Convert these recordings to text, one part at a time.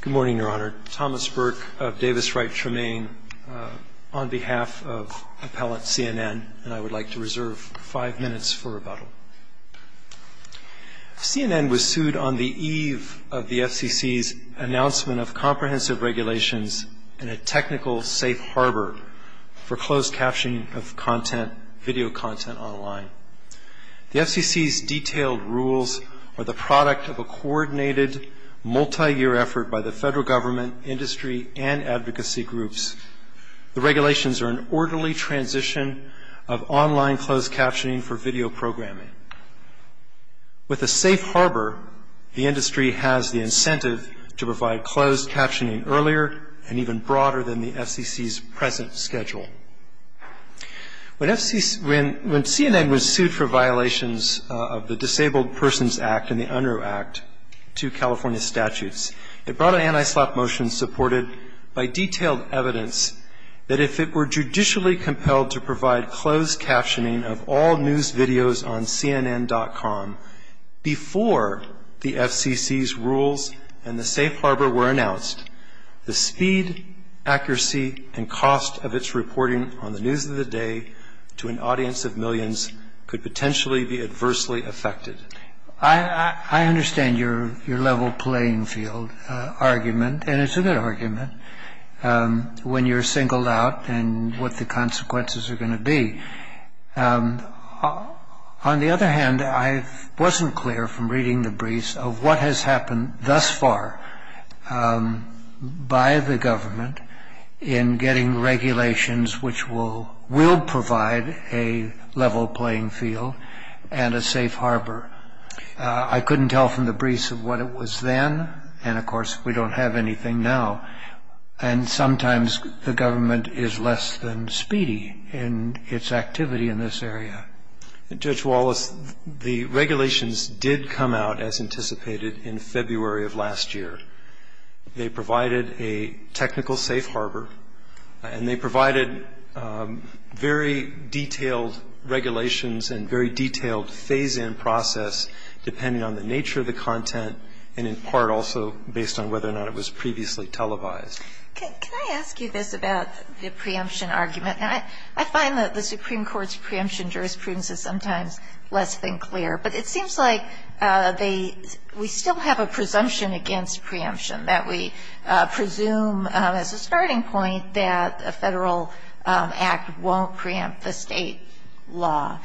Good morning, Your Honor. Thomas Burke of Davis Wright Tremaine on behalf of appellate CNN, and I would like to reserve five minutes for rebuttal. CNN was sued on the eve of the FCC's announcement of comprehensive regulations and a technical safe harbor for closed captioning of content, video content online. The FCC's detailed rules are the product of a coordinated, multi-year effort by the federal government, industry, and advocacy groups. The regulations are an orderly transition of online closed captioning for video programming. With a safe harbor, the industry has the incentive to provide When CNN was sued for violations of the Disabled Persons Act and the Unruh Act, two California statutes, it brought an anti-slap motion supported by detailed evidence that if it were judicially compelled to provide closed captioning of all news videos on CNN.com before the FCC's rules and the safe harbor were announced, the speed, accuracy, and cost of its reporting on the news of the day to an audience of millions could potentially be adversely affected. I understand your level playing field argument, and it's a good argument, when you're singled out and what the consequences are going to be. On the other hand, I wasn't clear from reading the briefs of what has happened thus far by the government in getting regulations which will provide a level playing field and a safe harbor. I couldn't tell from the briefs of what it was then, and of course we don't have anything now, and sometimes the government is less than speedy in its activity in this area. Judge Wallace, the regulations did come out as anticipated in February of last year. They provided a technical safe harbor, and they provided very detailed regulations and very detailed phase-in process depending on the nature of the content and in part also based on whether or not it was previously televised. Can I ask you this about the preemption argument? I find that the Supreme Court's preemption jurisprudence is sometimes less than clear, but it seems like we still have a presumption against preemption, that we presume as a starting point that a federal act won't preempt the state law.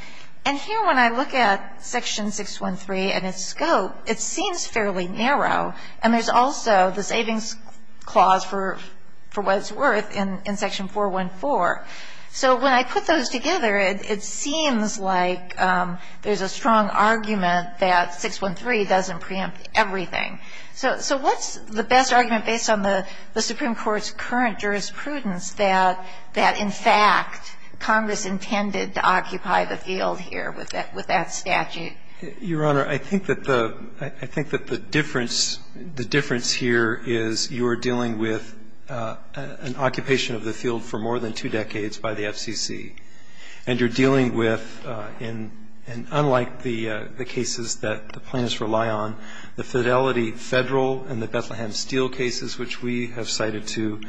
And here when I look at Section 613 and its scope, it seems fairly narrow, and there's also the savings clause for what it's worth in Section 414. So when I put those together, it seems like there's a strong argument that 613 doesn't preempt everything. So what's the best argument based on the Supreme Court's current jurisprudence that in fact Congress intended to occupy the field here with that statute? Your Honor, I think that the difference here is you're dealing with an occupation of the field for more than two decades by the FCC, and you're dealing with, and unlike the cases that the plaintiffs rely on, the Fidelity Federal and the Bethlehem Steel cases which we have cited too,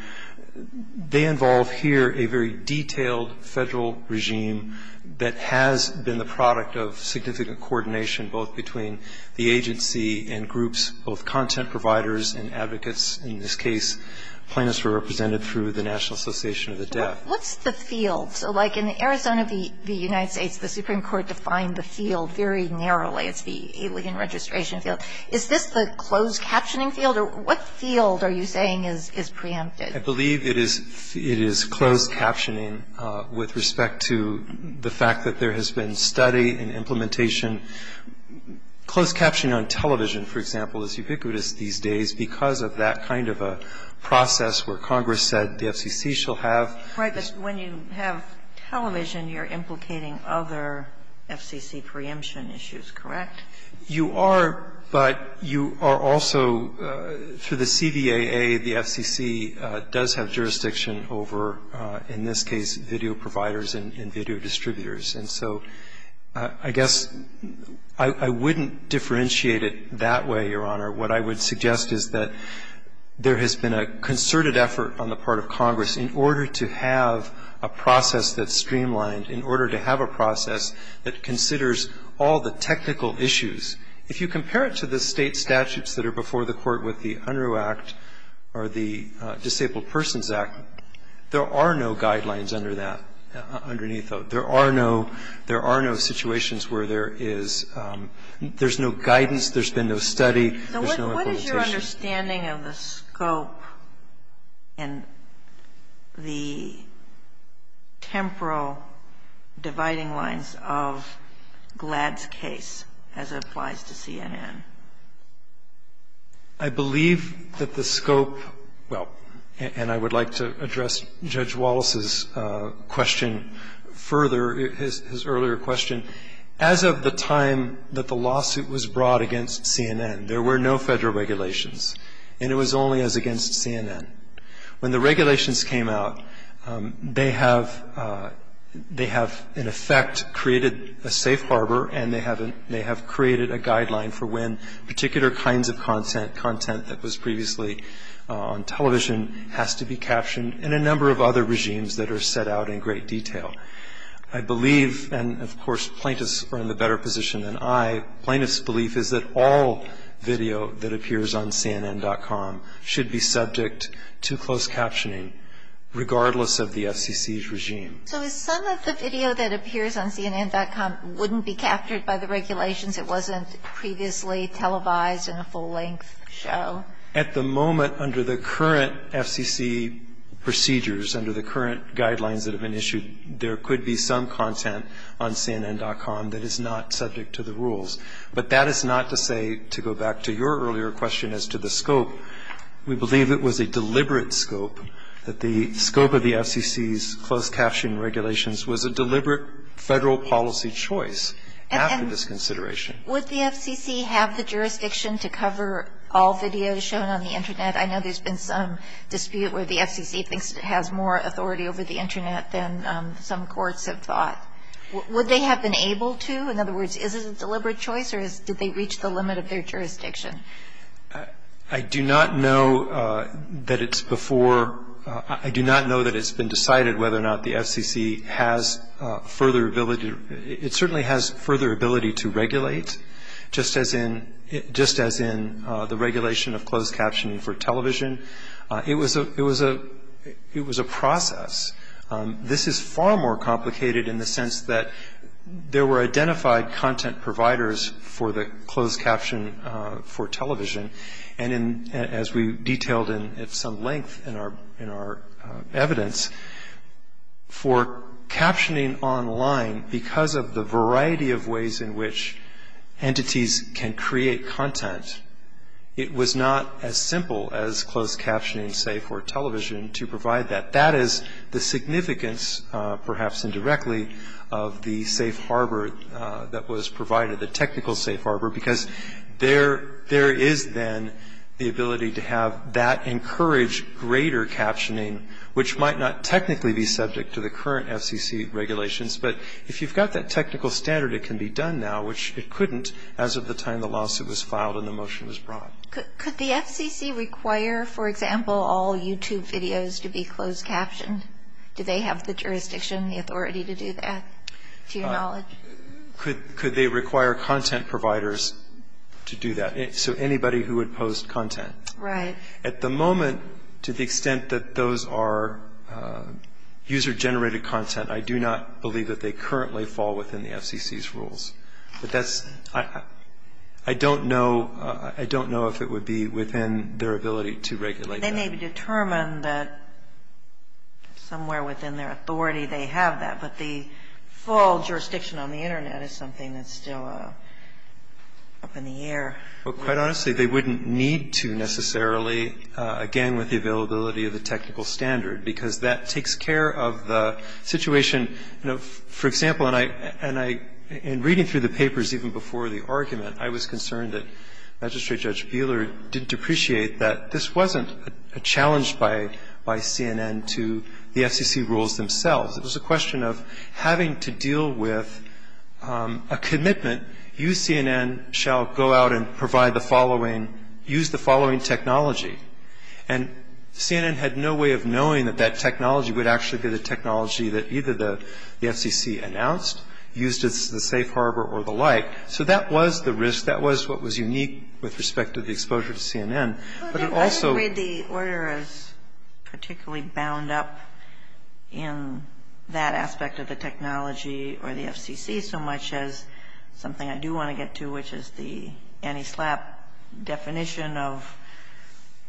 they involve here a very detailed federal regime that has been the product of significant coordination both between the agency and groups, both content providers and advocates. In this case, plaintiffs were represented through the National Association of the Deaf. What's the field? So like in Arizona v. United States, the Supreme Court defined the field very narrowly. It's the alien registration field. Is this the closed captioning field? Or what field are you saying is preempted? I believe it is closed captioning with respect to the fact that there has been study and implementation. Closed captioning on television, for example, is ubiquitous these days because of that kind of a process where Congress said the FCC shall have. Right, but when you have television, you're implicating other FCC preemption issues, correct? You are, but you are also, through the CVAA, the FCC does have jurisdiction over, in this case, video providers and video distributors. And so I guess I wouldn't differentiate it that way, Your Honor. What I would suggest is that there has been a concerted effort on the part of Congress in order to have a process that's streamlined, in order to have a process that considers all the technical issues. If you compare it to the State statutes that are before the Court with the Unruh Act or the Disabled Persons Act, there are no guidelines under that, underneath those. There are no situations where there is no guidance, there's been no study, there's no implementation. So what is your understanding of the scope and the temporal dividing lines of Gladd's case as it applies to CNN? I believe that the scope, well, and I would like to address Judge Wallace's question further, his earlier question. As of the time that the lawsuit was brought against CNN, there were no Federal regulations, and it was only as against CNN. When the regulations came out, they have in effect created a safe harbor and they have created a guideline for when particular kinds of content, content that was I believe, and of course, plaintiffs are in a better position than I, plaintiffs' belief is that all video that appears on CNN.com should be subject to closed captioning, regardless of the FCC's regime. So some of the video that appears on CNN.com wouldn't be captured by the regulations? It wasn't previously televised in a full-length show? At the moment, under the current FCC procedures, under the current guidelines that have been issued, there could be some content on CNN.com that is not subject to the rules. But that is not to say, to go back to your earlier question as to the scope, we believe it was a deliberate scope, that the scope of the FCC's closed captioning regulations was a deliberate Federal policy choice after this consideration. Would the FCC have the jurisdiction to cover all videos shown on the Internet? I know there's been some dispute where the FCC thinks it has more authority over the Internet than some courts have thought. Would they have been able to? In other words, is it a deliberate choice or did they reach the limit of their jurisdiction? I do not know that it's before – I do not know that it's been decided whether or not the FCC has further ability – it certainly has further ability to regulate, just as in – just as in the regulation of closed captioning for television. It was a – it was a – it was a process. This is far more complicated in the sense that there were identified content providers for the closed caption for television. And in – as we detailed in some length in our – in our evidence, for captioning online, because of the variety of ways in which entities can create content, it was not as simple as closed captioning, say, for television to provide that. That is the significance, perhaps indirectly, of the safe harbor that was provided, the technical safe harbor, because there – there is then the ability to have that encourage greater captioning, which might not technically be subject to the current FCC regulations. But if you've got that technical standard, it can be done now, which it couldn't as of the time the lawsuit was filed and the motion was brought. Could the FCC require, for example, all YouTube videos to be closed captioned? Do they have the jurisdiction, the authority to do that, to your knowledge? Could – could they require content providers to do that? So anybody who would post content. Right. At the moment, to the extent that those are user-generated content, I do not believe that they currently fall within the FCC's rules. But that's – I don't know – I don't know if it would be within their ability to regulate that. They may be determined that somewhere within their authority they have that. But the full jurisdiction on the Internet is something that's still up in the air. Well, quite honestly, they wouldn't need to necessarily, again, with the availability of the technical standard, because that takes care of the situation. You know, for example, and I – and I – in reading through the papers even before the argument, I was concerned that Magistrate Judge Buehler didn't appreciate that this wasn't a challenge by – by CNN to the FCC rules themselves. It was a question of having to deal with a commitment. You, CNN, shall go out and provide the following – use the following technology. And CNN had no way of knowing that that technology would actually be the technology that either the FCC announced, used as the safe harbor or the like. So that was the risk. That was what was unique with respect to the exposure to CNN. But it also – I don't think the order is particularly bound up in that aspect of the technology or the FCC so much as something I do want to get to, which is the antislap definition of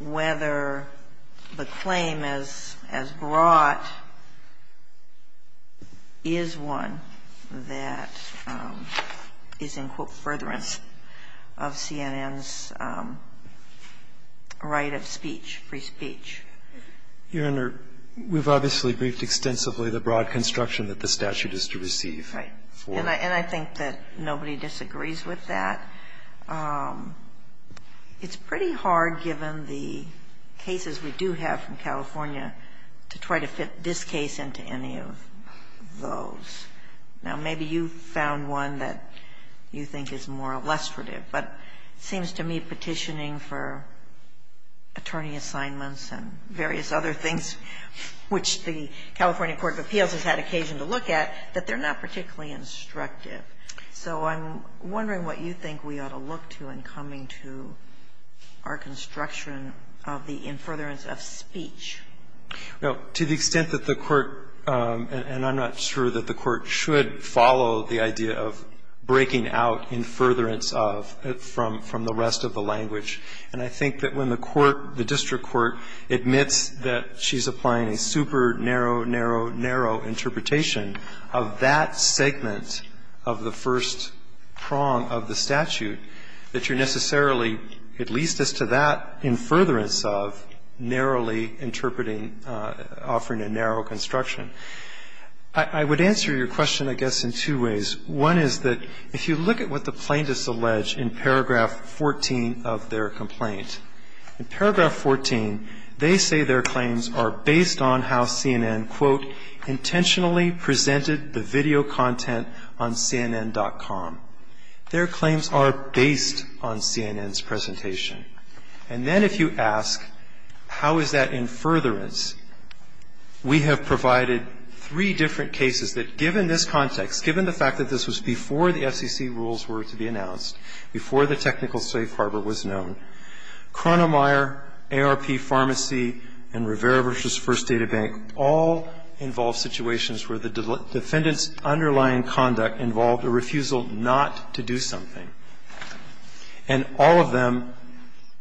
whether the claim as – as brought is one that is in, quote, of CNN's right of speech, free speech. Your Honor, we've obviously briefed extensively the broad construction that the statute is to receive. Right. And I – and I think that nobody disagrees with that. It's pretty hard, given the cases we do have from California, to try to fit this case into any of those. Now, maybe you've found one that you think is more illustrative. But it seems to me petitioning for attorney assignments and various other things, which the California court of appeals has had occasion to look at, that they're not particularly instructive. So I'm wondering what you think we ought to look to in coming to our construction of the in furtherance of speech. Now, to the extent that the court – and I'm not sure that the court should follow the idea of breaking out in furtherance of from the rest of the language. And I think that when the court, the district court, admits that she's applying a super narrow, narrow, narrow interpretation of that segment of the first prong of the statute, that you're necessarily, at least as to that, in furtherance of narrowly interpreting, offering a narrow construction. I would answer your question, I guess, in two ways. One is that if you look at what the plaintiffs allege in paragraph 14 of their complaint, in paragraph 14, they say their claims are based on how CNN, quote, intentionally presented the video content on CNN.com. Their claims are based on CNN's presentation. And then if you ask how is that in furtherance, we have provided three different cases that, given this context, given the fact that this was before the FCC rules were to be announced, before the technical safe harbor was known, Cronemeyer, ARP Pharmacy, and Rivera v. First Data Bank all involve situations where the defendant's client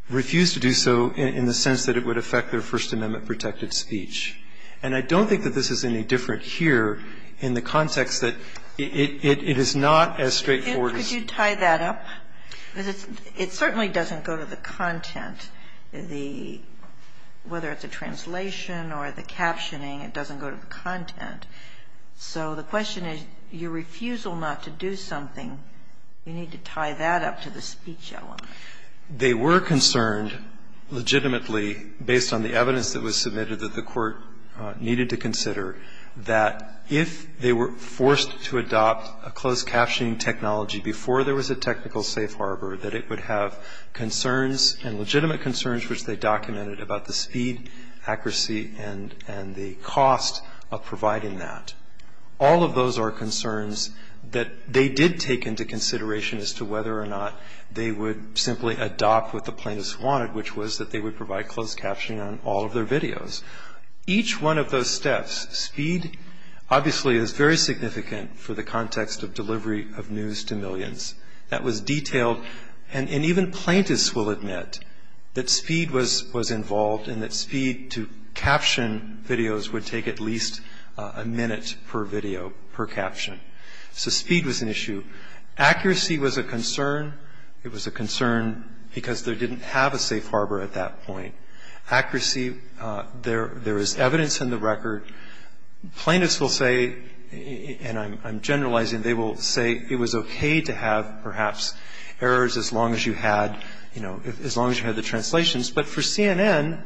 refused to do so in the sense that it would affect their First Amendment protected speech. And I don't think that this is any different here in the context that it is not as straightforward as you think. Kagan. Could you tie that up? Because it certainly doesn't go to the content, whether it's a translation or the captioning, it doesn't go to the content. So the question is your refusal not to do something, you need to tie that up to the speech element. They were concerned legitimately, based on the evidence that was submitted that the Court needed to consider, that if they were forced to adopt a closed captioning technology before there was a technical safe harbor, that it would have concerns and legitimate concerns, which they documented, about the speed, accuracy, and the cost of providing that. All of those are concerns that they did take into consideration as to whether or not they would simply adopt what the plaintiffs wanted, which was that they would provide closed captioning on all of their videos. Each one of those steps, speed obviously is very significant for the context of delivery of news to millions. That was detailed, and even plaintiffs will admit that speed was involved and that it was a concern because there didn't have a safe harbor at that point. Accuracy, there is evidence in the record. Plaintiffs will say, and I'm generalizing, they will say it was okay to have perhaps errors as long as you had, you know, as long as you had the translations. But for CNN,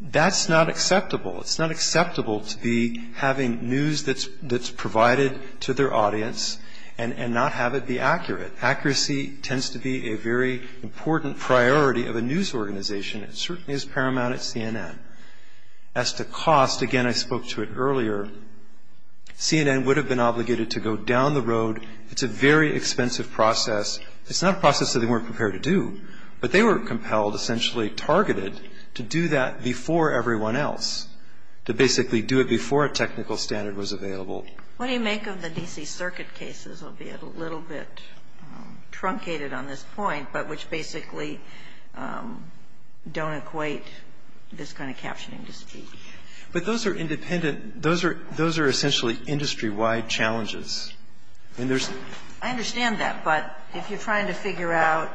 that's not acceptable. It's not acceptable to be having news that's provided to their audience and not have it be accurate. Accuracy tends to be a very important priority of a news organization. It certainly is paramount at CNN. As to cost, again, I spoke to it earlier. CNN would have been obligated to go down the road. It's a very expensive process. It's not a process that they weren't prepared to do, but they were compelled, essentially targeted, to do that before everyone else, to basically do it before a technical standard was available. What do you make of the D.C. Circuit cases, albeit a little bit truncated on this point, but which basically don't equate this kind of captioning to speed? But those are independent. Those are essentially industry-wide challenges. I mean, there's no question. I understand that, but if you're trying to figure out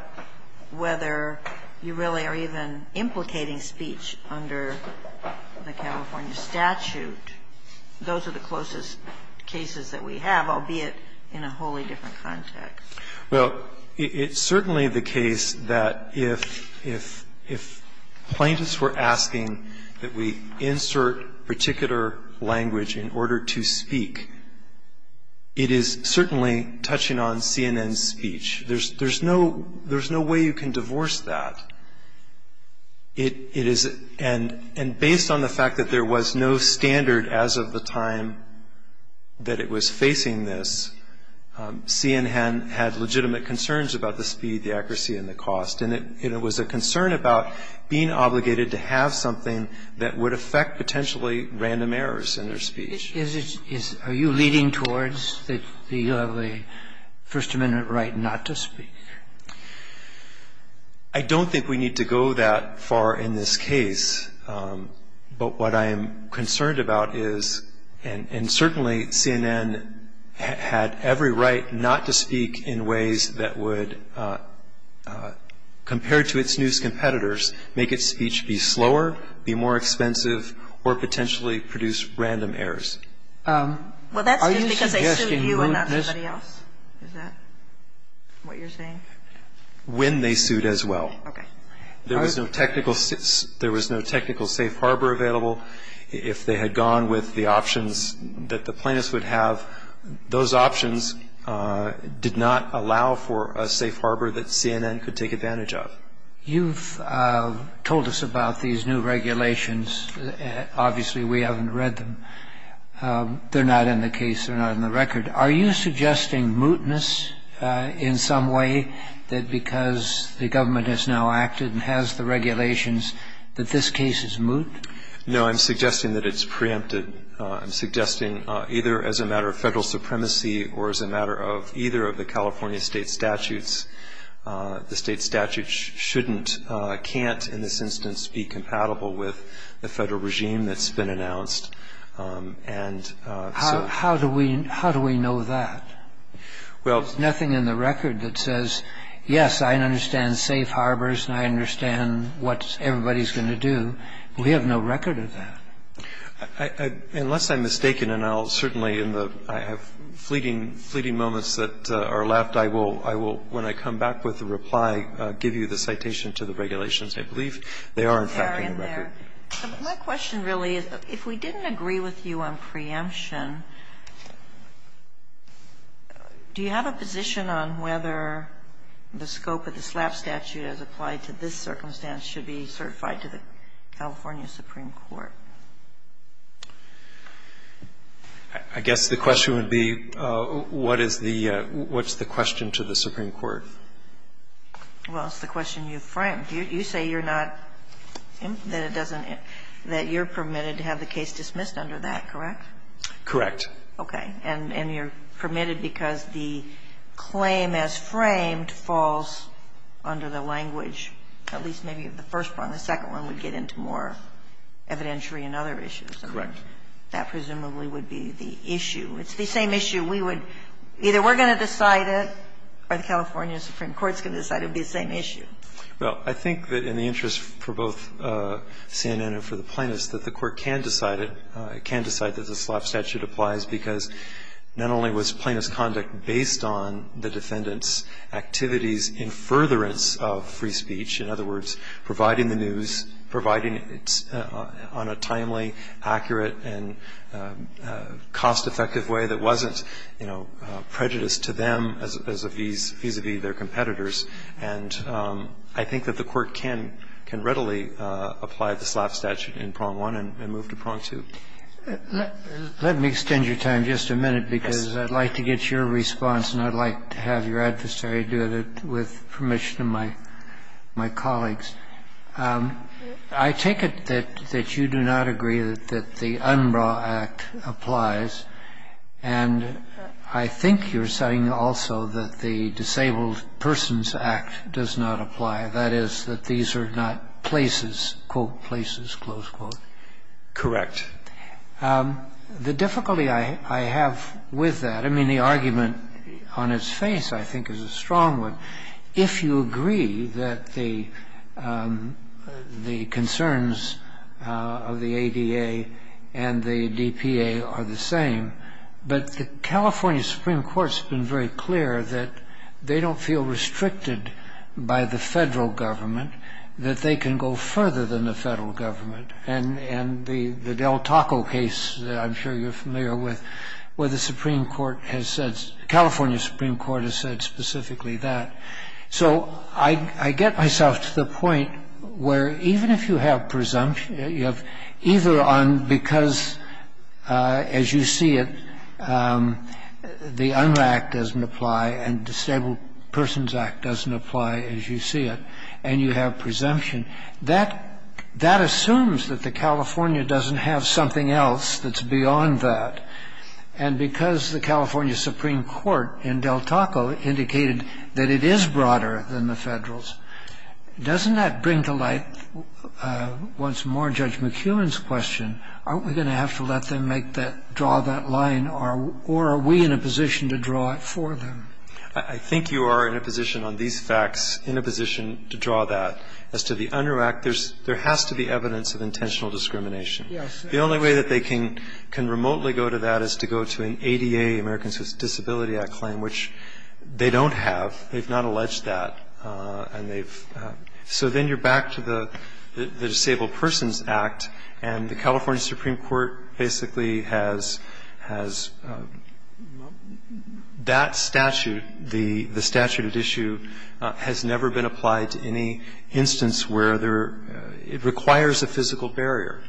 whether you really are even implicating speech under the California statute, those are the closest cases that we have, albeit in a wholly different context. Well, it's certainly the case that if plaintiffs were asking that we insert particular language in order to speak, it is certainly touching on CNN's speech. There's no way you can divorce that, and based on the fact that there was no standard as of the time that it was facing this, CNN had legitimate concerns about the speed, the accuracy, and the cost, and it was a concern about being obligated to have something that would affect potentially random errors in their speech. Are you leading towards the First Amendment right not to speak? I don't think we need to go that far in this case, but what I am concerned about is, and certainly CNN had every right not to speak in ways that would, compared to its news competitors, make its speech be slower, be more expensive, or potentially produce random errors. Well, that's just because they sued you and not somebody else. Is that what you're saying? When they sued as well. Okay. There was no technical safe harbor available. If they had gone with the options that the plaintiffs would have, those options did not allow for a safe harbor that CNN could take advantage of. You've told us about these new regulations. Obviously, we haven't read them. They're not in the case. They're not in the record. Are you suggesting mootness in some way, that because the government has now acted and has the regulations, that this case is moot? No, I'm suggesting that it's preempted. I'm suggesting either as a matter of federal supremacy or as a matter of either of the California state statutes, the state statute shouldn't, can't in this instance be compatible with the federal regime that's been announced. How do we know that? There's nothing in the record that says, yes, I understand safe harbors and I understand what everybody's going to do. We have no record of that. Unless I'm mistaken, and I'll certainly in the fleeting moments that are left, I will, when I come back with a reply, give you the citation to the regulations. I believe they are, in fact, in the record. They are in there. My question really is, if we didn't agree with you on preemption, do you have a position on whether the scope of the SLAP statute as applied to this circumstance should be certified to the California Supreme Court? I guess the question would be, what is the question to the Supreme Court? Well, it's the question you framed. You say you're not, that it doesn't, that you're permitted to have the case dismissed under that, correct? Correct. Okay. And you're permitted because the claim as framed falls under the language, at least maybe, of the first one. The second one would get into more evidentiary and other issues. Correct. That presumably would be the issue. It's the same issue. We would, either we're going to decide it or the California Supreme Court's going to decide it would be the same issue. Well, I think that in the interest for both CNN and for the plaintiffs, that the Court can decide it. It can decide that the SLAP statute applies because not only was plaintiff's conduct based on the defendant's activities in furtherance of free speech, in other words, providing the news, providing it on a timely, accurate and cost-effective way that wasn't, you know, prejudiced to them as a vis-a-vis their competitors. And I think that the Court can readily apply the SLAP statute in prong one and move to prong two. Let me extend your time just a minute, because I'd like to get your response and I'd like to have your adversary do it with permission of my colleagues. I take it that you do not agree that the Umbra Act applies, and I think you're saying also that the Disabled Persons Act does not apply, that is, that these are not places, quote, places, close quote. Correct. The difficulty I have with that, I mean, the argument on its face, I think, is a strong one. If you agree that the concerns of the ADA and the DPA are the same, but the California Supreme Court has been very clear that they don't feel restricted by the Federal Government, that they can go further than the Federal Government. And the Del Taco case, I'm sure you're familiar with, where the Supreme Court has said, California Supreme Court has said specifically that. So I get myself to the point where even if you have presumption, you have either on because, as you see it, the Umbra Act doesn't apply and the Disabled Persons Act doesn't apply, as you see it, and you have presumption, that assumes that the California doesn't have something else that's beyond that. And because the California Supreme Court in Del Taco indicated that it is broader than the Federal's, doesn't that bring to light, once more, Judge McKeown's question, aren't we going to have to let them make that, draw that line, or are we in a position to draw it for them? I think you are in a position on these facts, in a position to draw that. As to the Umbra Act, there has to be evidence of intentional discrimination. Yes. The only way that they can remotely go to that is to go to an ADA, Americans with Disability Act claim, which they don't have. They've not alleged that. And they've so then you're back to the Disabled Persons Act, and the California statute, the statute at issue, has never been applied to any instance where there are, it requires a physical barrier.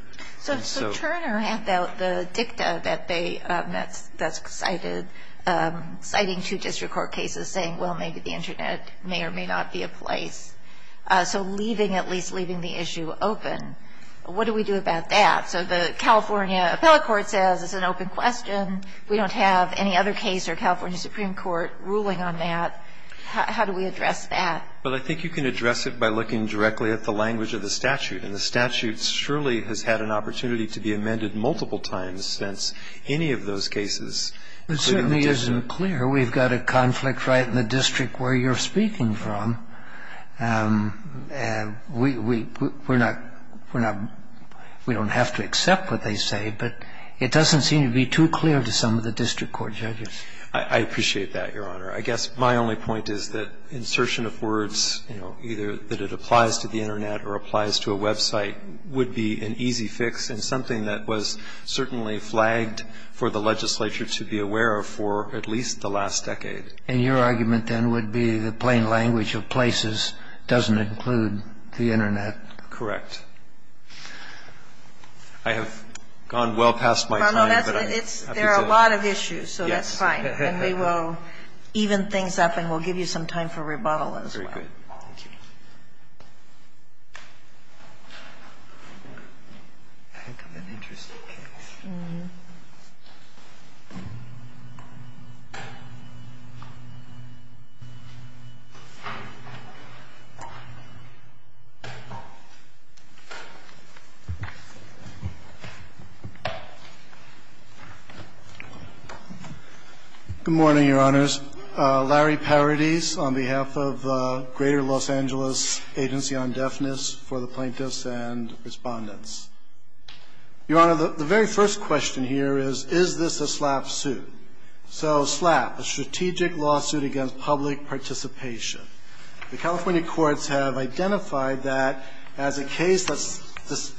And so. So Turner had the dicta that they, that's cited, citing two district court cases saying, well, maybe the Internet may or may not be a place. So leaving, at least leaving the issue open, what do we do about that? So the California appellate court says it's an open question. We don't have any other case or California Supreme Court ruling on that. How do we address that? Well, I think you can address it by looking directly at the language of the statute. And the statute surely has had an opportunity to be amended multiple times since any of those cases. It certainly isn't clear. We've got a conflict right in the district where you're speaking from. We're not, we're not, we don't have to accept what they say. But it doesn't seem to be too clear to some of the district court judges. I appreciate that, Your Honor. I guess my only point is that insertion of words, you know, either that it applies to the Internet or applies to a website, would be an easy fix and something that was certainly flagged for the legislature to be aware of for at least the last decade. And your argument then would be the plain language of places doesn't include the Internet. Correct. I have gone well past my time. There are a lot of issues. So that's fine. And we will even things up and we'll give you some time for rebuttal as well. Very good. Thank you. Good morning, Your Honors. Larry Paradis on behalf of Greater Los Angeles Agency on Deafness for the Plaintiffs and Respondents. Your Honor, the very first question here is, is this a SLAPP suit? So SLAPP, a Strategic Lawsuit Against Public Participation. The California courts have identified that as a case that's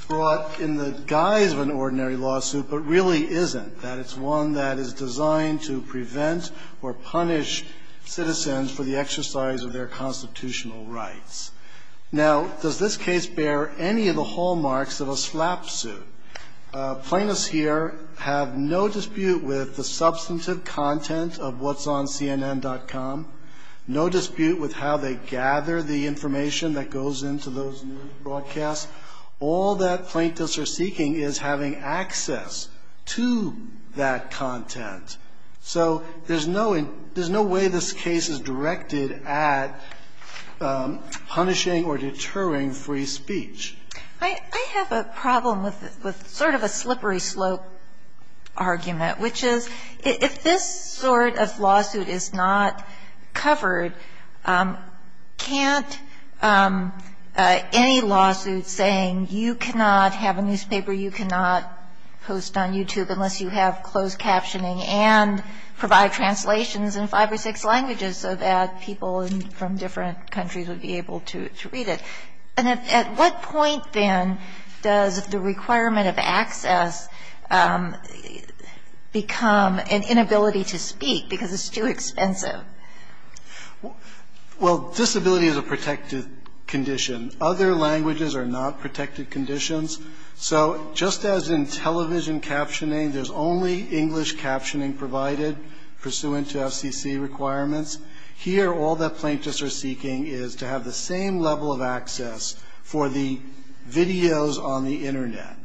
brought in the guise of an ordinary lawsuit but really isn't, that it's one that is designed to prevent or punish citizens for the exercise of their constitutional rights. Now, does this case bear any of the hallmarks of a SLAPP suit? Plaintiffs here have no dispute with the substantive content of what's on CNN.com, no dispute with how they gather the information that goes into those news broadcasts. All that plaintiffs are seeking is having access to that content. So there's no way this case is directed at punishing or deterring free speech. I have a problem with sort of a slippery slope argument, which is if this sort of lawsuit is not covered, can't any lawsuit saying you cannot have a newspaper, you cannot post on YouTube unless you have closed captioning and provide translations in five or six languages so that people from different countries would be able to read it? And at what point then does the requirement of access become an inability to speak because it's too expensive? Well, disability is a protected condition. Other languages are not protected conditions. So just as in television captioning, there's only English captioning provided pursuant to FCC requirements. Here all that plaintiffs are seeking is to have the same level of access for the videos on the Internet.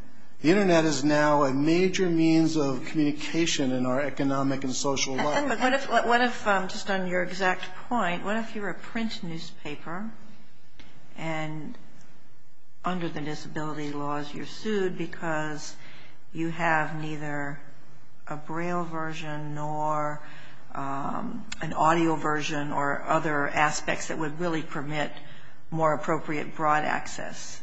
The Internet is now a major means of communication in our economic and social life. What if, just on your exact point, what if you were a print newspaper and under the disability laws you're sued because you have neither a braille version nor an audio version or other aspects that would really permit more appropriate broad access?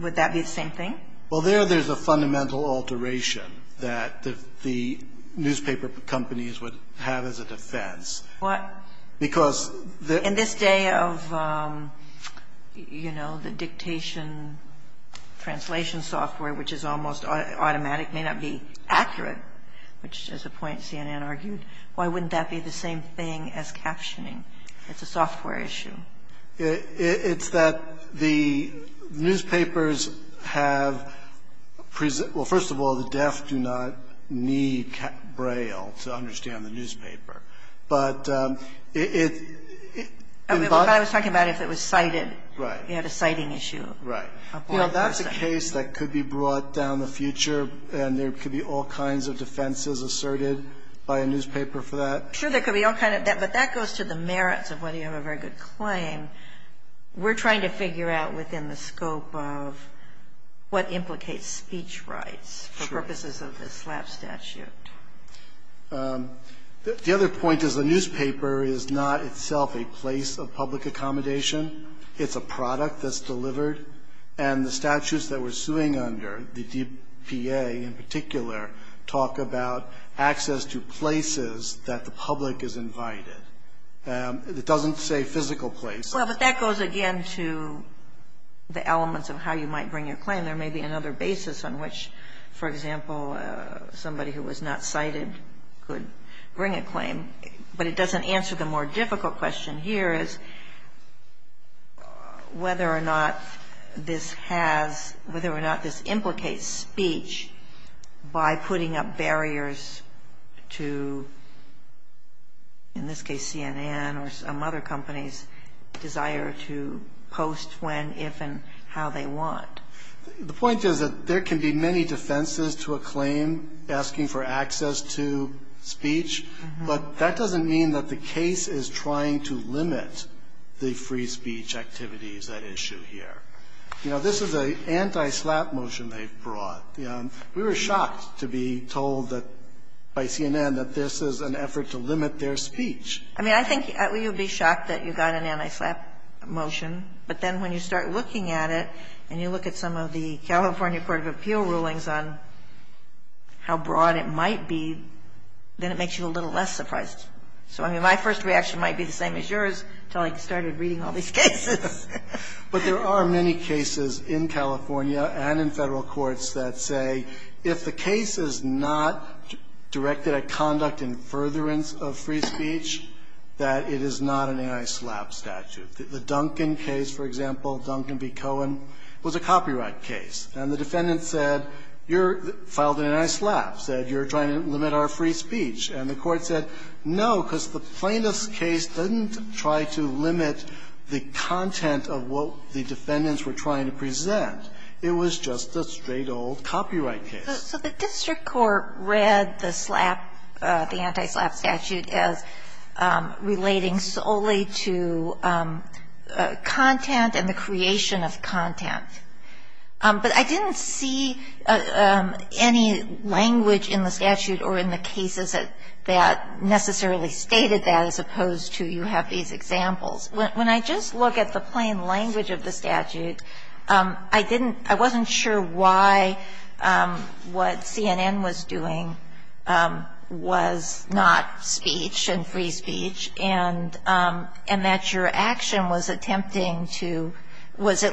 Would that be the same thing? Well, there there's a fundamental alteration that the newspaper companies would have as a defense. What? Because the — In this day of, you know, the dictation translation software, which is almost automatic, may not be accurate, which is a point CNN argued, why wouldn't that be the same thing as captioning? It's a software issue. It's that the newspapers have — well, first of all, the deaf do not need braille to understand the newspaper. But it — I was talking about if it was cited. Right. You had a citing issue. Right. You know, that's a case that could be brought down in the future, and there could be all kinds of defenses asserted by a newspaper for that. But that goes to the merits of whether you have a very good claim. We're trying to figure out within the scope of what implicates speech rights for purposes of the SLAPP statute. The other point is the newspaper is not itself a place of public accommodation. It's a product that's delivered. And the statutes that we're suing under, the DPA in particular, talk about access to places that the public is invited. It doesn't say physical places. Well, but that goes again to the elements of how you might bring your claim. There may be another basis on which, for example, somebody who was not cited could bring a claim. But it doesn't answer the more difficult question here, is whether or not this has, whether or not this implicates speech by putting up barriers to, in this case, CNN or some other companies' desire to post when, if, and how they want. The point is that there can be many defenses to a claim asking for access to speech, but that doesn't mean that the case is trying to limit the free speech activities at issue here. You know, this is an anti-SLAPP motion they've brought. We were shocked to be told that, by CNN, that this is an effort to limit their speech. I mean, I think you'd be shocked that you got an anti-SLAPP motion. But then when you start looking at it and you look at some of the California Court of Appeal rulings on how broad it might be, then it makes you a little less surprised. So, I mean, my first reaction might be the same as yours until I started reading all these cases. But there are many cases in California and in Federal courts that say if the case is not directed at conduct in furtherance of free speech, that it is not an anti-SLAPP statute. The Duncan case, for example, Duncan v. Cohen, was a copyright case. And the defendant said, you filed an anti-SLAPP, said you're trying to limit our free speech. And the Court said, no, because the plaintiff's case didn't try to limit the content of what the defendants were trying to present. It was just a straight old copyright case. So the district court read the SLAPP, the anti-SLAPP statute, as relating solely to content and the creation of content. But I didn't see any language in the statute or in the cases that necessarily stated that as opposed to you have these examples. When I just look at the plain language of the statute, I didn't – I wasn't sure why what CNN was doing was not speech and free speech, and that your action was at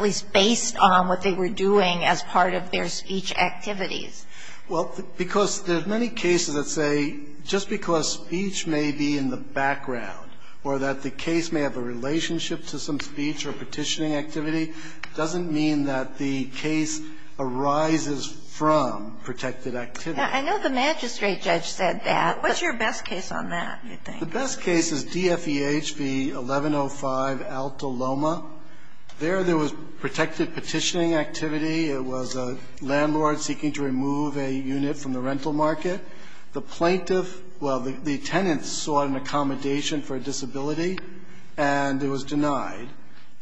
least based on what they were doing as part of their speech activities. Well, because there's many cases that say just because speech may be in the background or that the case may have a relationship to some speech or petitioning activity doesn't mean that the case arises from protected activity. I know the magistrate judge said that. What's your best case on that, do you think? The best case is DFEH v. 1105 Alto Loma. There, there was protected petitioning activity. It was a landlord seeking to remove a unit from the rental market. The plaintiff – well, the tenant sought an accommodation for a disability, and it was denied.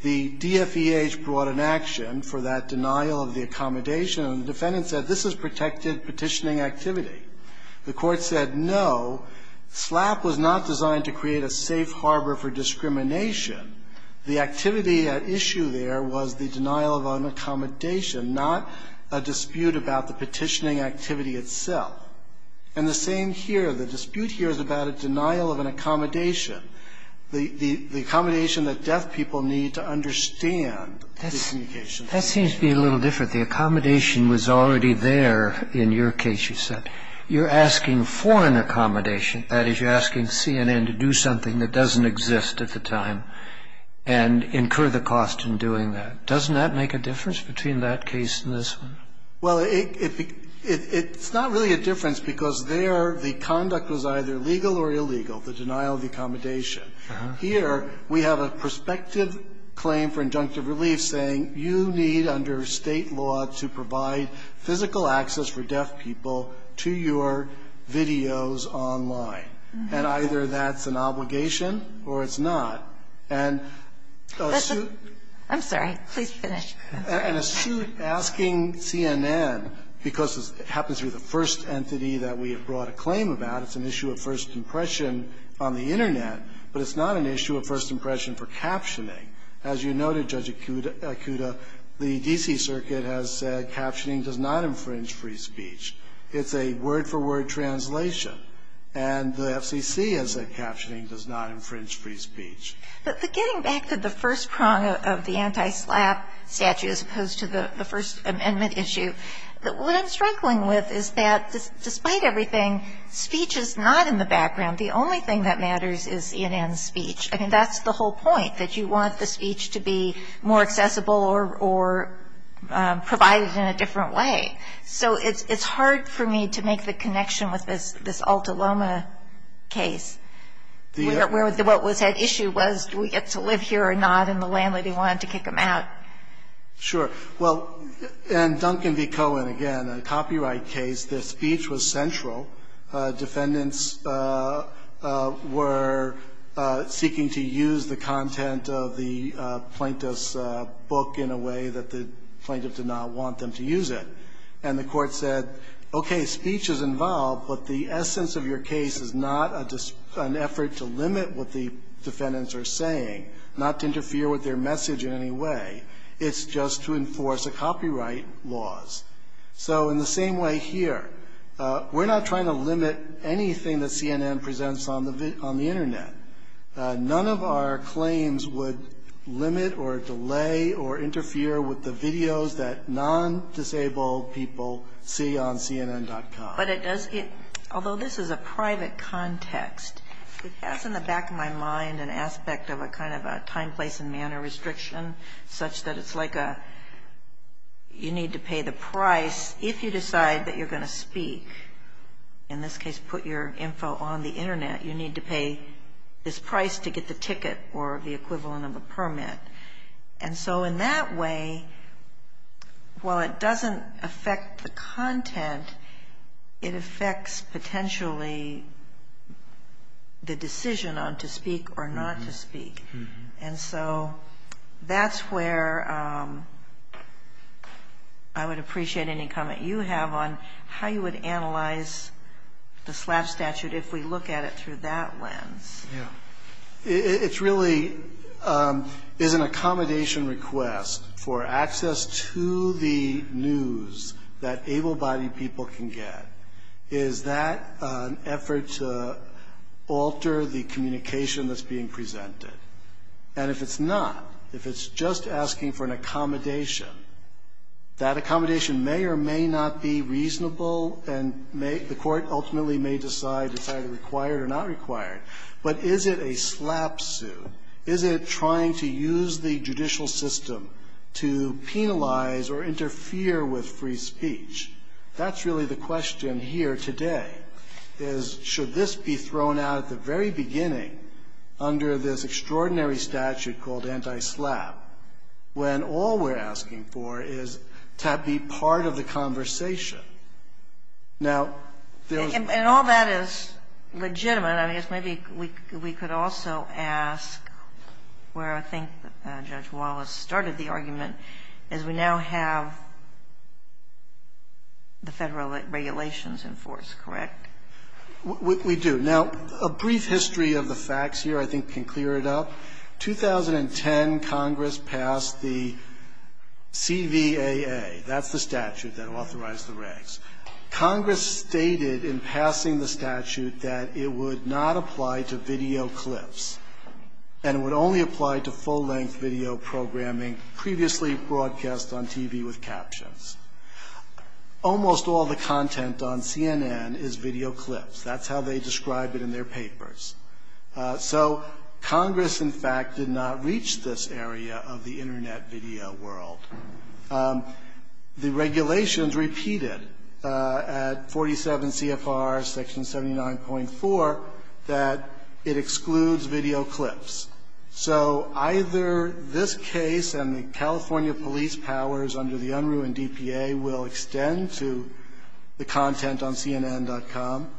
The DFEH brought an action for that denial of the accommodation, and the defendant said this is protected petitioning activity. The court said no. SLAPP was not designed to create a safe harbor for discrimination. The activity at issue there was the denial of an accommodation, not a dispute about the petitioning activity itself. And the same here. The dispute here is about a denial of an accommodation, the accommodation that deaf people need to understand the communication. That seems to be a little different. The accommodation was already there in your case, you said. You're asking foreign accommodation, that is, you're asking CNN to do something that doesn't exist at the time and incur the cost in doing that. Doesn't that make a difference between that case and this one? Well, it's not really a difference because there the conduct was either legal or illegal, the denial of the accommodation. Here we have a prospective claim for injunctive relief saying you need under State law to provide physical access for deaf people to your videos online. And either that's an obligation or it's not. And a suit asking CNN, because it happens to be the first entity that we have brought a claim about, it's an issue of first impression on the Internet, but it's not an issue of first impression for captioning. As you noted, Judge Akuta, the D.C. Circuit has said captioning does not infringe free speech. It's a word-for-word translation. And the FCC has said captioning does not infringe free speech. But getting back to the first prong of the anti-SLAPP statute as opposed to the First Amendment issue, what I'm struggling with is that despite everything, speech is not in the background. The only thing that matters is CNN's speech. I mean, that's the whole point, that you want the speech to be more accessible or provided in a different way. So it's hard for me to make the connection with this Alta Loma case where what was at issue was do we get to live here or not, and the landlady wanted to kick them out. Sure. Well, in Duncan v. Cohen, again, a copyright case, the speech was central. Defendants were seeking to use the content of the plaintiff's book in a way that the plaintiff did not want them to use it. And the court said, okay, speech is involved, but the essence of your case is not an effort to limit what the defendants are saying, not to interfere with their message in any way. It's just to enforce the copyright laws. So in the same way here, we're not trying to limit anything that CNN presents on the Internet. None of our claims would limit or delay or interfere with the videos that non-disabled people see on CNN.com. But it does get, although this is a private context, it has in the back of my mind an aspect of a kind of a time, place, and manner restriction such that it's like a, you need to pay the price if you decide that you're going to speak. In this case, put your info on the Internet. You need to pay this price to get the ticket or the equivalent of a permit. And so in that way, while it doesn't affect the content, it affects potentially the decision on to speak or not to speak. And so that's where I would appreciate any comment you have on how you would analyze the slap statute if we look at it through that lens. Yeah. It's really, is an accommodation request for access to the news that able-bodied people can get, is that an effort to alter the communication that's being presented? And if it's not, if it's just asking for an accommodation, that accommodation may or may not be reasonable and may, the court ultimately may decide it's either required or not required. But is it a slap suit? Is it trying to use the judicial system to penalize or interfere with free speech? That's really the question here today, is should this be thrown out at the very beginning under this extraordinary statute called anti-slap, when all we're asking for is to be part of the conversation? Now, there's not. And all that is legitimate. I guess maybe we could also ask where I think Judge Wallace started the argument is we now have the Federal regulations in force, correct? We do. Now, a brief history of the facts here I think can clear it up. 2010, Congress passed the CVAA. That's the statute that authorized the regs. Congress stated in passing the statute that it would not apply to video clips, and it would only apply to full-length video programming previously broadcast on TV with captions. Almost all the content on CNN is video clips. That's how they describe it in their papers. So Congress, in fact, did not reach this area of the Internet video world. The regulations repeated at 47 CFR section 79.4 that it excludes video clips. So either this case and the California police powers under the unruined EPA will extend to the content on CNN.com,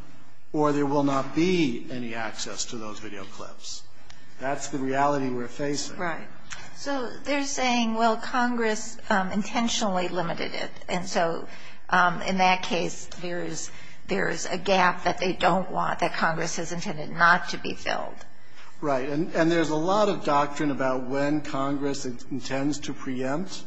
or there will not be any access to those video clips. That's the reality we're facing. Right. So they're saying, well, Congress intentionally limited it. And so in that case, there is a gap that they don't want, that Congress has intended not to be filled. Right. And there's a lot of doctrine about when Congress intends to preempt.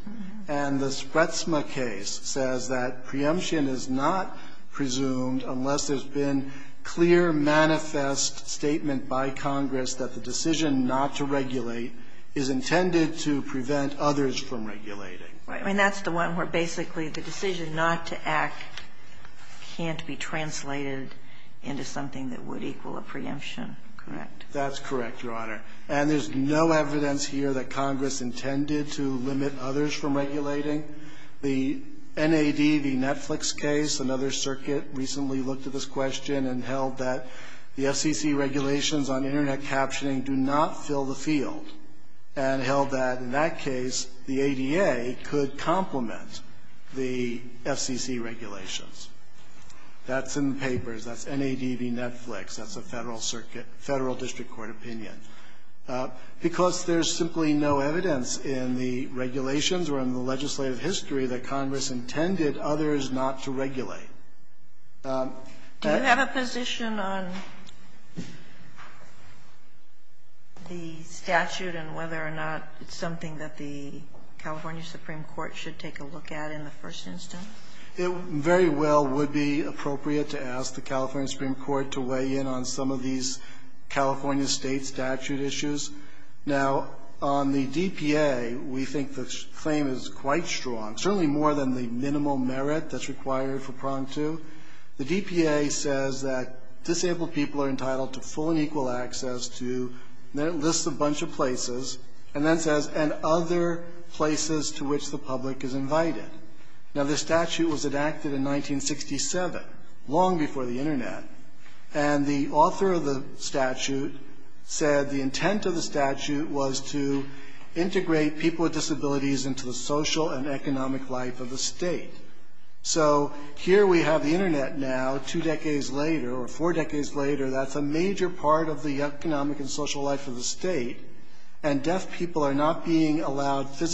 And the Spretsma case says that preemption is not presumed unless there's been clear manifest statement by Congress that the decision not to regulate is intended to prevent others from regulating. Right. I mean, that's the one where basically the decision not to act can't be translated into something that would equal a preemption. Correct. That's correct, Your Honor. And there's no evidence here that Congress intended to limit others from regulating. The NAD v. Netflix case, another circuit recently looked at this question and held that the FCC regulations on Internet captioning do not fill the field, and held that in that case, the ADA could complement the FCC regulations. That's in the papers. That's NAD v. Netflix. That's a Federal Circuit, Federal district court opinion. Because there's simply no evidence in the regulations or in the legislative history that Congress intended others not to regulate. Do you have a position on the statute and whether or not it's something that the California Supreme Court should take a look at in the first instance? It very well would be appropriate to ask the California Supreme Court to weigh in on some of these California State statute issues. Now, on the DPA, we think the claim is quite strong, certainly more than the minimal merit that's required for prong two. The DPA says that disabled people are entitled to full and equal access to, and it lists a bunch of places, and then says, and other places to which the public is invited. Now, this statute was enacted in 1967, long before the Internet, and the author of the statute said the intent of the statute was to integrate people with disabilities into the social and economic life of the state. So, here we have the Internet now, two decades later, or four decades later, that's a major part of the economic and social life of the state, and deaf people are not being The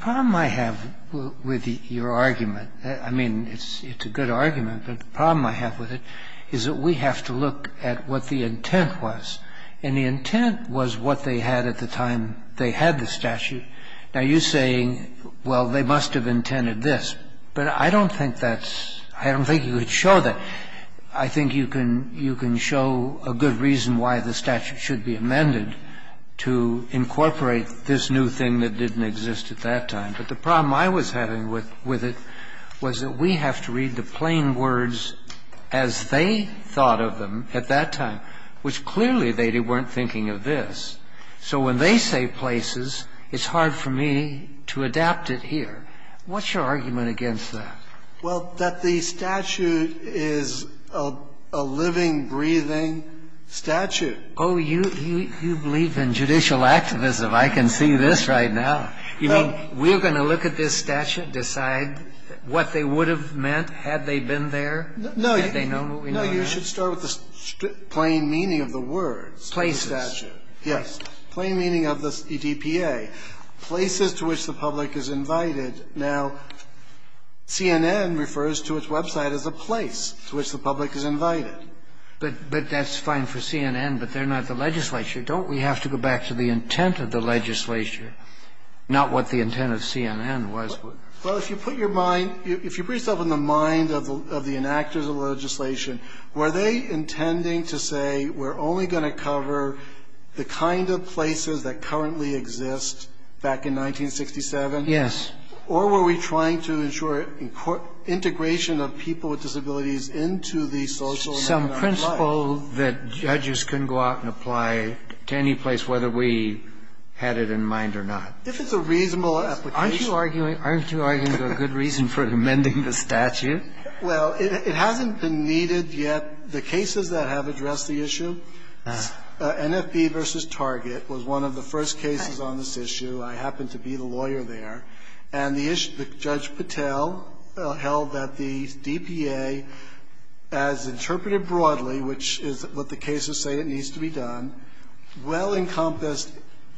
problem I have with your argument, I mean, it's a good argument, but the problem I have with it is that we have to look at what the intent was. And the intent was what they had at the time they had the statute. Now, you're saying, well, they must have intended this. But I don't think that's – I don't think you could show that. I think you can show a good reason why the statute should be amended to incorporate this new thing that didn't exist at that time. But the problem I was having with it was that we have to read the plain words as they thought of them at that time, which clearly they weren't thinking of this. So when they say places, it's hard for me to adapt it here. What's your argument against that? Well, that the statute is a living, breathing statute. Oh, you believe in judicial activism. I can see this right now. You mean we're going to look at this statute, decide what they would have meant had they been there? No, you should start with the plain meaning of the words. Places. Yes. Plain meaning of the EDPA. Places to which the public is invited. Now, CNN refers to its website as a place to which the public is invited. But that's fine for CNN, but they're not the legislature. Don't we have to go back to the intent of the legislature, not what the intent of CNN was? Well, if you put your mind, if you put yourself in the mind of the enactors of legislation, were they intending to say we're only going to cover the kind of places that currently exist back in 1967? Yes. Or were we trying to ensure integration of people with disabilities into the social and economic life? Some principle that judges can go out and apply to any place, whether we had it in mind or not. If it's a reasonable application. Aren't you arguing there's a good reason for amending the statute? Well, it hasn't been needed yet. The cases that have addressed the issue, NFB v. Target was one of the first cases on this issue. I happened to be the lawyer there. And the issue, Judge Patel held that the DPA, as interpreted broadly, which is what the cases say it needs to be done, well-encompassed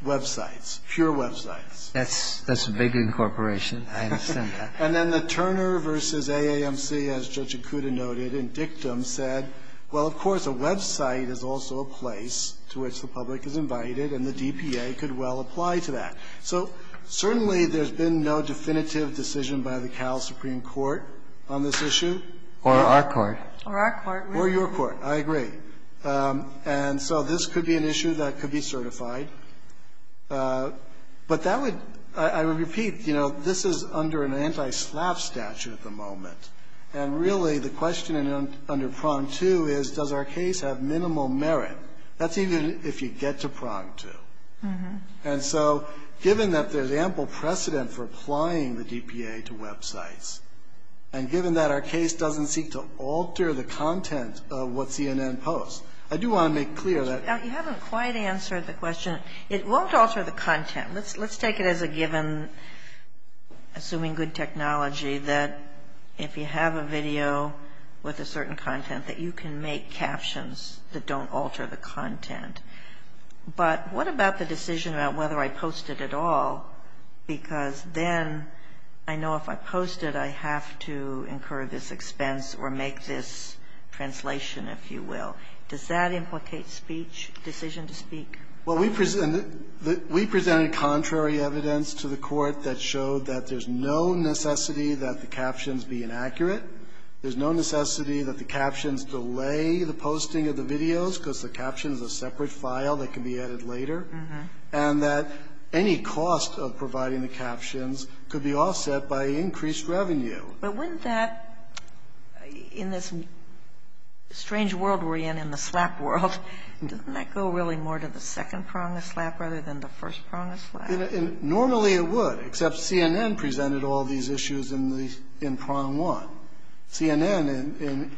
websites, pure websites. That's a big incorporation. I understand that. And then the Turner v. AAMC, as Judge Ikuda noted, in dictum, said, well, of course, a website is also a place to which the public is invited, and the DPA could well apply to that. So certainly there's been no definitive decision by the Cal Supreme Court on this issue. Or our court. Or our court. Or your court. I agree. And so this could be an issue that could be certified. But that would, I repeat, you know, this is under an anti-SLAPP statute at the moment. And really the question under prong two is, does our case have minimal merit? That's even if you get to prong two. And so given that there's ample precedent for applying the DPA to websites, and given that our case doesn't seek to alter the content of what CNN posts, I do want to make clear that. You haven't quite answered the question. It won't alter the content. Let's take it as a given, assuming good technology, that if you have a video with a certain content that you can make captions that don't alter the content. But what about the decision about whether I post it at all? Because then I know if I post it, I have to incur this expense or make this translation, if you will. Well, we presented contrary evidence to the court that showed that there's no necessity that the captions be inaccurate. There's no necessity that the captions delay the posting of the videos because the caption is a separate file that can be added later. And that any cost of providing the captions could be offset by increased revenue. But wouldn't that, in this strange world we're in, in the SLAPP world, doesn't that go really more to the second prong of SLAPP rather than the first prong of SLAPP? Normally it would, except CNN presented all these issues in the prong one. CNN,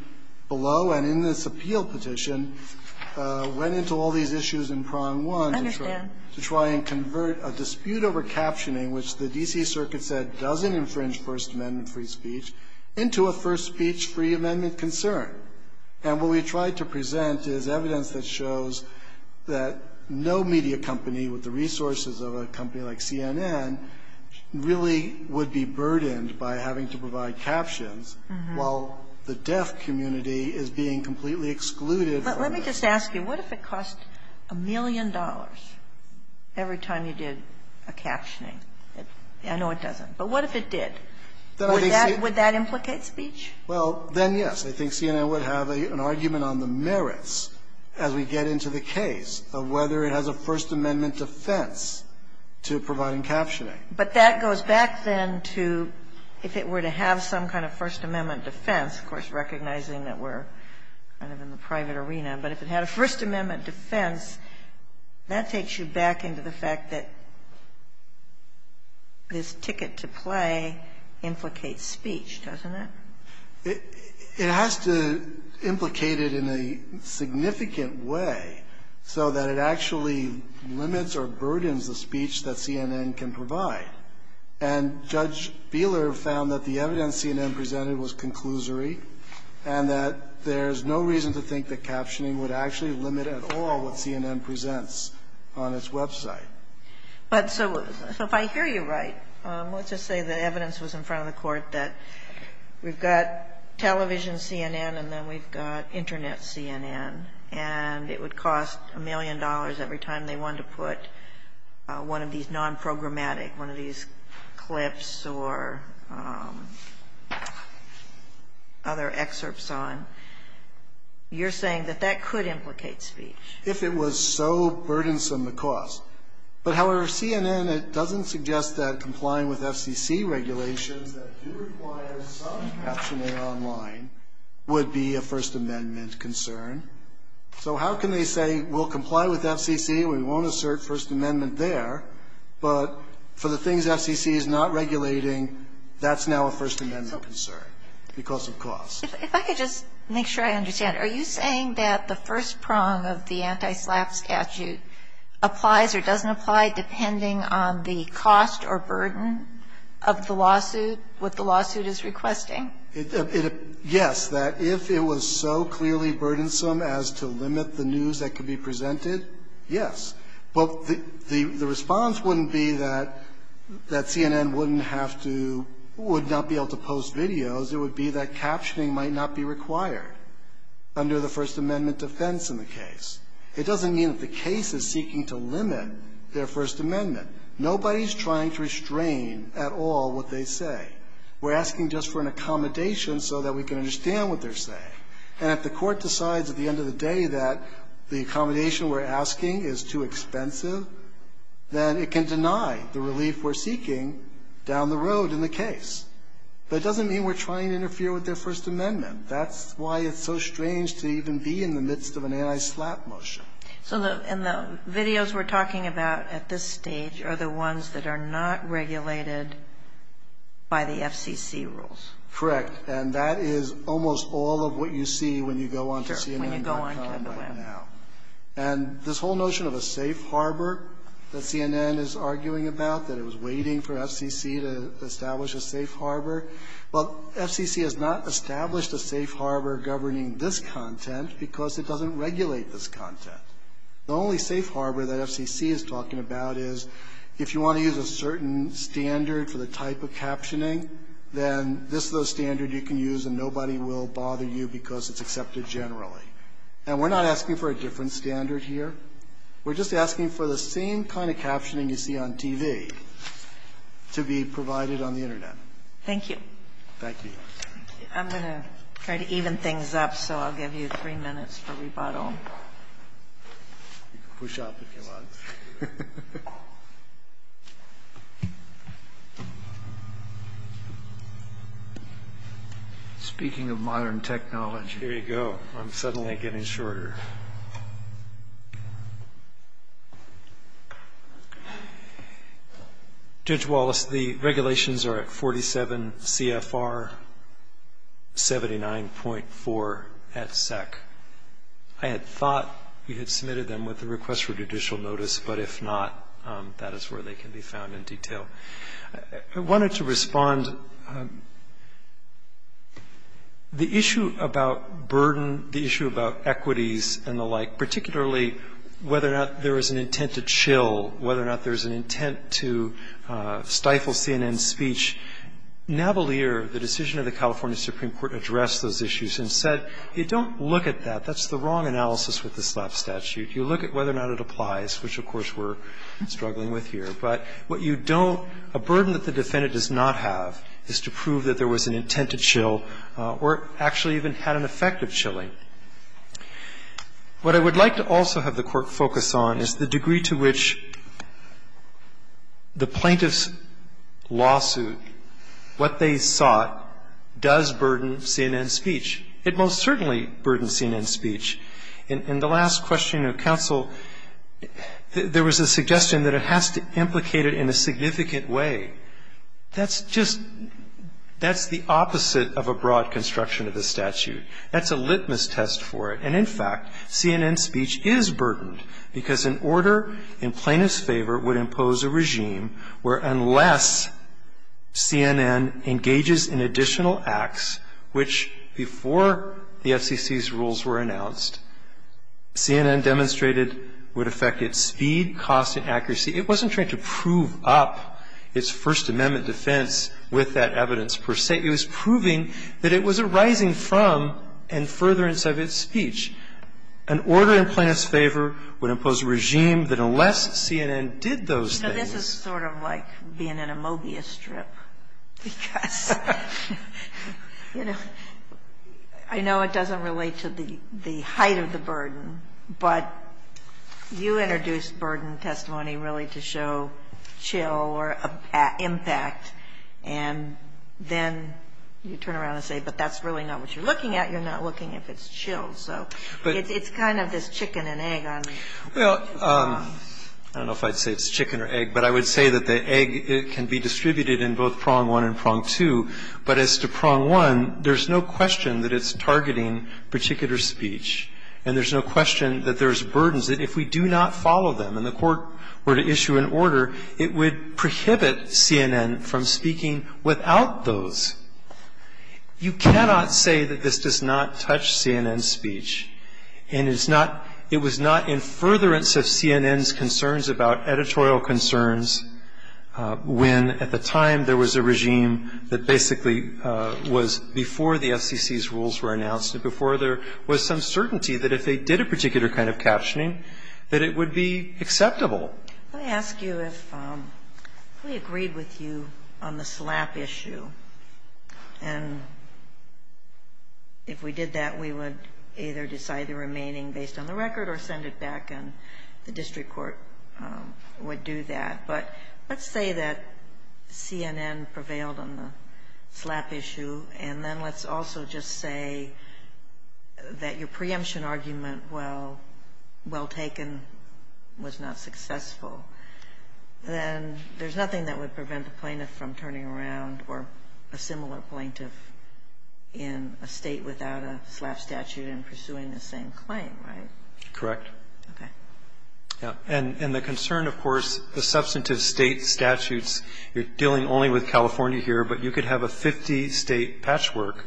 below and in this appeal petition, went into all these issues in prong one. I understand. To try and convert a dispute over captioning, which the D.C. Circuit said doesn't infringe First Amendment free speech, into a First Speech free amendment concern. And what we tried to present is evidence that shows that no media company with the resources of a company like CNN really would be burdened by having to provide captions while the deaf community is being completely excluded from it. But let me just ask you. What if it cost a million dollars every time you did a captioning? I know it doesn't. But what if it did? Would that implicate speech? Well, then yes. I think CNN would have an argument on the merits as we get into the case of whether it has a First Amendment defense to providing captioning. But that goes back then to if it were to have some kind of First Amendment defense, of course, recognizing that we're kind of in the private arena, but if it had a First Amendment defense, that takes you back into the fact that this ticket to play implicates speech, doesn't it? It has to implicate it in a significant way so that it actually limits or burdens the speech that CNN can provide. And Judge Beeler found that the evidence CNN presented was conclusory and that there's no reason to think that captioning would actually limit at all what CNN presents on its website. But so if I hear you right, let's just say the evidence was in front of the Court that we've got television CNN and then we've got Internet CNN, and it would cost a million dollars every time they wanted to put one of these nonprogrammatic, one of these clips or other excerpts on. You're saying that that could implicate speech. If it was so burdensome to cost. But, however, CNN, it doesn't suggest that complying with FCC regulations that do require some captioning online would be a First Amendment concern. So how can they say, we'll comply with FCC, we won't assert First Amendment there, but for the things FCC is not regulating, that's now a First Amendment concern because of cost? If I could just make sure I understand. Are you saying that the first prong of the anti-SLAPP statute applies or doesn't apply depending on the cost or burden of the lawsuit, what the lawsuit is requesting? Yes. That if it was so clearly burdensome as to limit the news that could be presented, yes. But the response wouldn't be that CNN wouldn't have to, would not be able to post videos. It would be that captioning might not be required under the First Amendment defense in the case. It doesn't mean that the case is seeking to limit their First Amendment. Nobody is trying to restrain at all what they say. We're asking just for an accommodation so that we can understand what they're saying. And if the Court decides at the end of the day that the accommodation we're asking is too expensive, then it can deny the relief we're seeking down the road in the case. But it doesn't mean we're trying to interfere with their First Amendment. That's why it's so strange to even be in the midst of an anti-SLAPP motion. So the videos we're talking about at this stage are the ones that are not regulated by the FCC rules. Correct. And that is almost all of what you see when you go onto CNN.com right now. Sure, when you go onto the web. And this whole notion of a safe harbor that CNN is arguing about, that it was waiting for FCC to establish a safe harbor. Well, FCC has not established a safe harbor governing this content because it doesn't regulate this content. The only safe harbor that FCC is talking about is if you want to use a certain standard for the type of captioning, then this is a standard you can use and nobody will bother you because it's accepted generally. And we're not asking for a different standard here. We're just asking for the same kind of captioning you see on TV to be provided on the Internet. Thank you. Thank you. I'm going to try to even things up, so I'll give you three minutes for rebuttal. You can push up if you want. Speaking of modern technology. Here you go. I'm suddenly getting shorter. Judge Wallace, the regulations are at 47 CFR 79.4 at SEC. I had thought you had submitted them with a request for judicial notice, but if not, that is where they can be found in detail. I wanted to respond. The issue about burden, the issue about equities and the like, particularly whether or not there is an intent to chill, whether or not there is an intent to stifle CNN speech, Navalier, the decision of the California Supreme Court, addressed those issues and said you don't look at that. That's the wrong analysis with the slap statute. You look at whether or not it applies, which of course we're struggling with here. But what you don't, a burden that the defendant does not have is to prove that there was an intent to chill or actually even had an effect of chilling. What I would like to also have the Court focus on is the degree to which the plaintiff's lawsuit, what they sought, does burden CNN speech. It most certainly burdens CNN speech. In the last question of counsel, there was a suggestion that it has to implicate it in a significant way. That's just the opposite of a broad construction of the statute. That's a litmus test for it. And in fact, CNN speech is burdened because an order in plaintiff's favor would impose a regime where unless CNN engages in additional acts, which before the FCC's court announced, CNN demonstrated would affect its speed, cost and accuracy. It wasn't trying to prove up its First Amendment defense with that evidence per se. It was proving that it was arising from and furtherance of its speech. An order in plaintiff's favor would impose a regime that unless CNN did those things You know, this is sort of like being in a mogia strip because, you know, I know it doesn't relate to the height of the burden, but you introduced burden testimony really to show chill or impact, and then you turn around and say, but that's really not what you're looking at. You're not looking if it's chill. So it's kind of this chicken and egg on the table. Well, I don't know if I'd say it's chicken or egg, but I would say that the egg can be distributed in both prong one and prong two. But as to prong one, there's no question that it's targeting particular speech. And there's no question that there's burdens that if we do not follow them and the court were to issue an order, it would prohibit CNN from speaking without those. You cannot say that this does not touch CNN's speech. And it's not It was not in furtherance of CNN's concerns about editorial concerns when at the time there was a regime that basically was before the FCC's rules were announced and before there was some certainty that if they did a particular kind of captioning that it would be acceptable. Let me ask you if we agreed with you on the slap issue, and if we did that, we would either decide the remaining based on the record or send it back and the district court would do that. But let's say that CNN prevailed on the slap issue, and then let's also just say that your preemption argument, while well taken, was not successful. Then there's nothing that would prevent the plaintiff from turning around or a similar plaintiff in a State without a slap statute in pursuing the same claim, right? Correct. Okay. And the concern, of course, the substantive State statutes, you're dealing only with California here, but you could have a 50-State patchwork,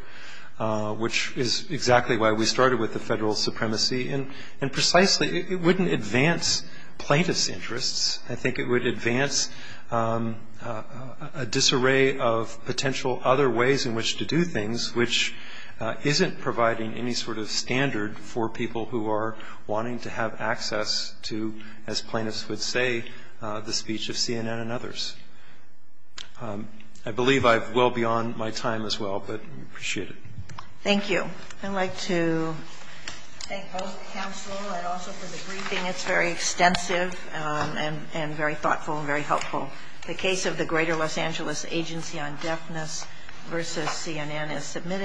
which is exactly why we started with the federal supremacy. And precisely, it wouldn't advance plaintiff's interests. I think it would advance a disarray of potential other ways in which to do things which isn't providing any sort of standard for people who are wanting to have access to, as plaintiffs would say, the speech of CNN and others. I believe I've well beyond my time as well, but I appreciate it. Thank you. I'd like to thank both the counsel and also for the briefing. It's very extensive and very thoughtful and very helpful. The case of the Greater Los Angeles Agency on Deafness v. CNN is submitted.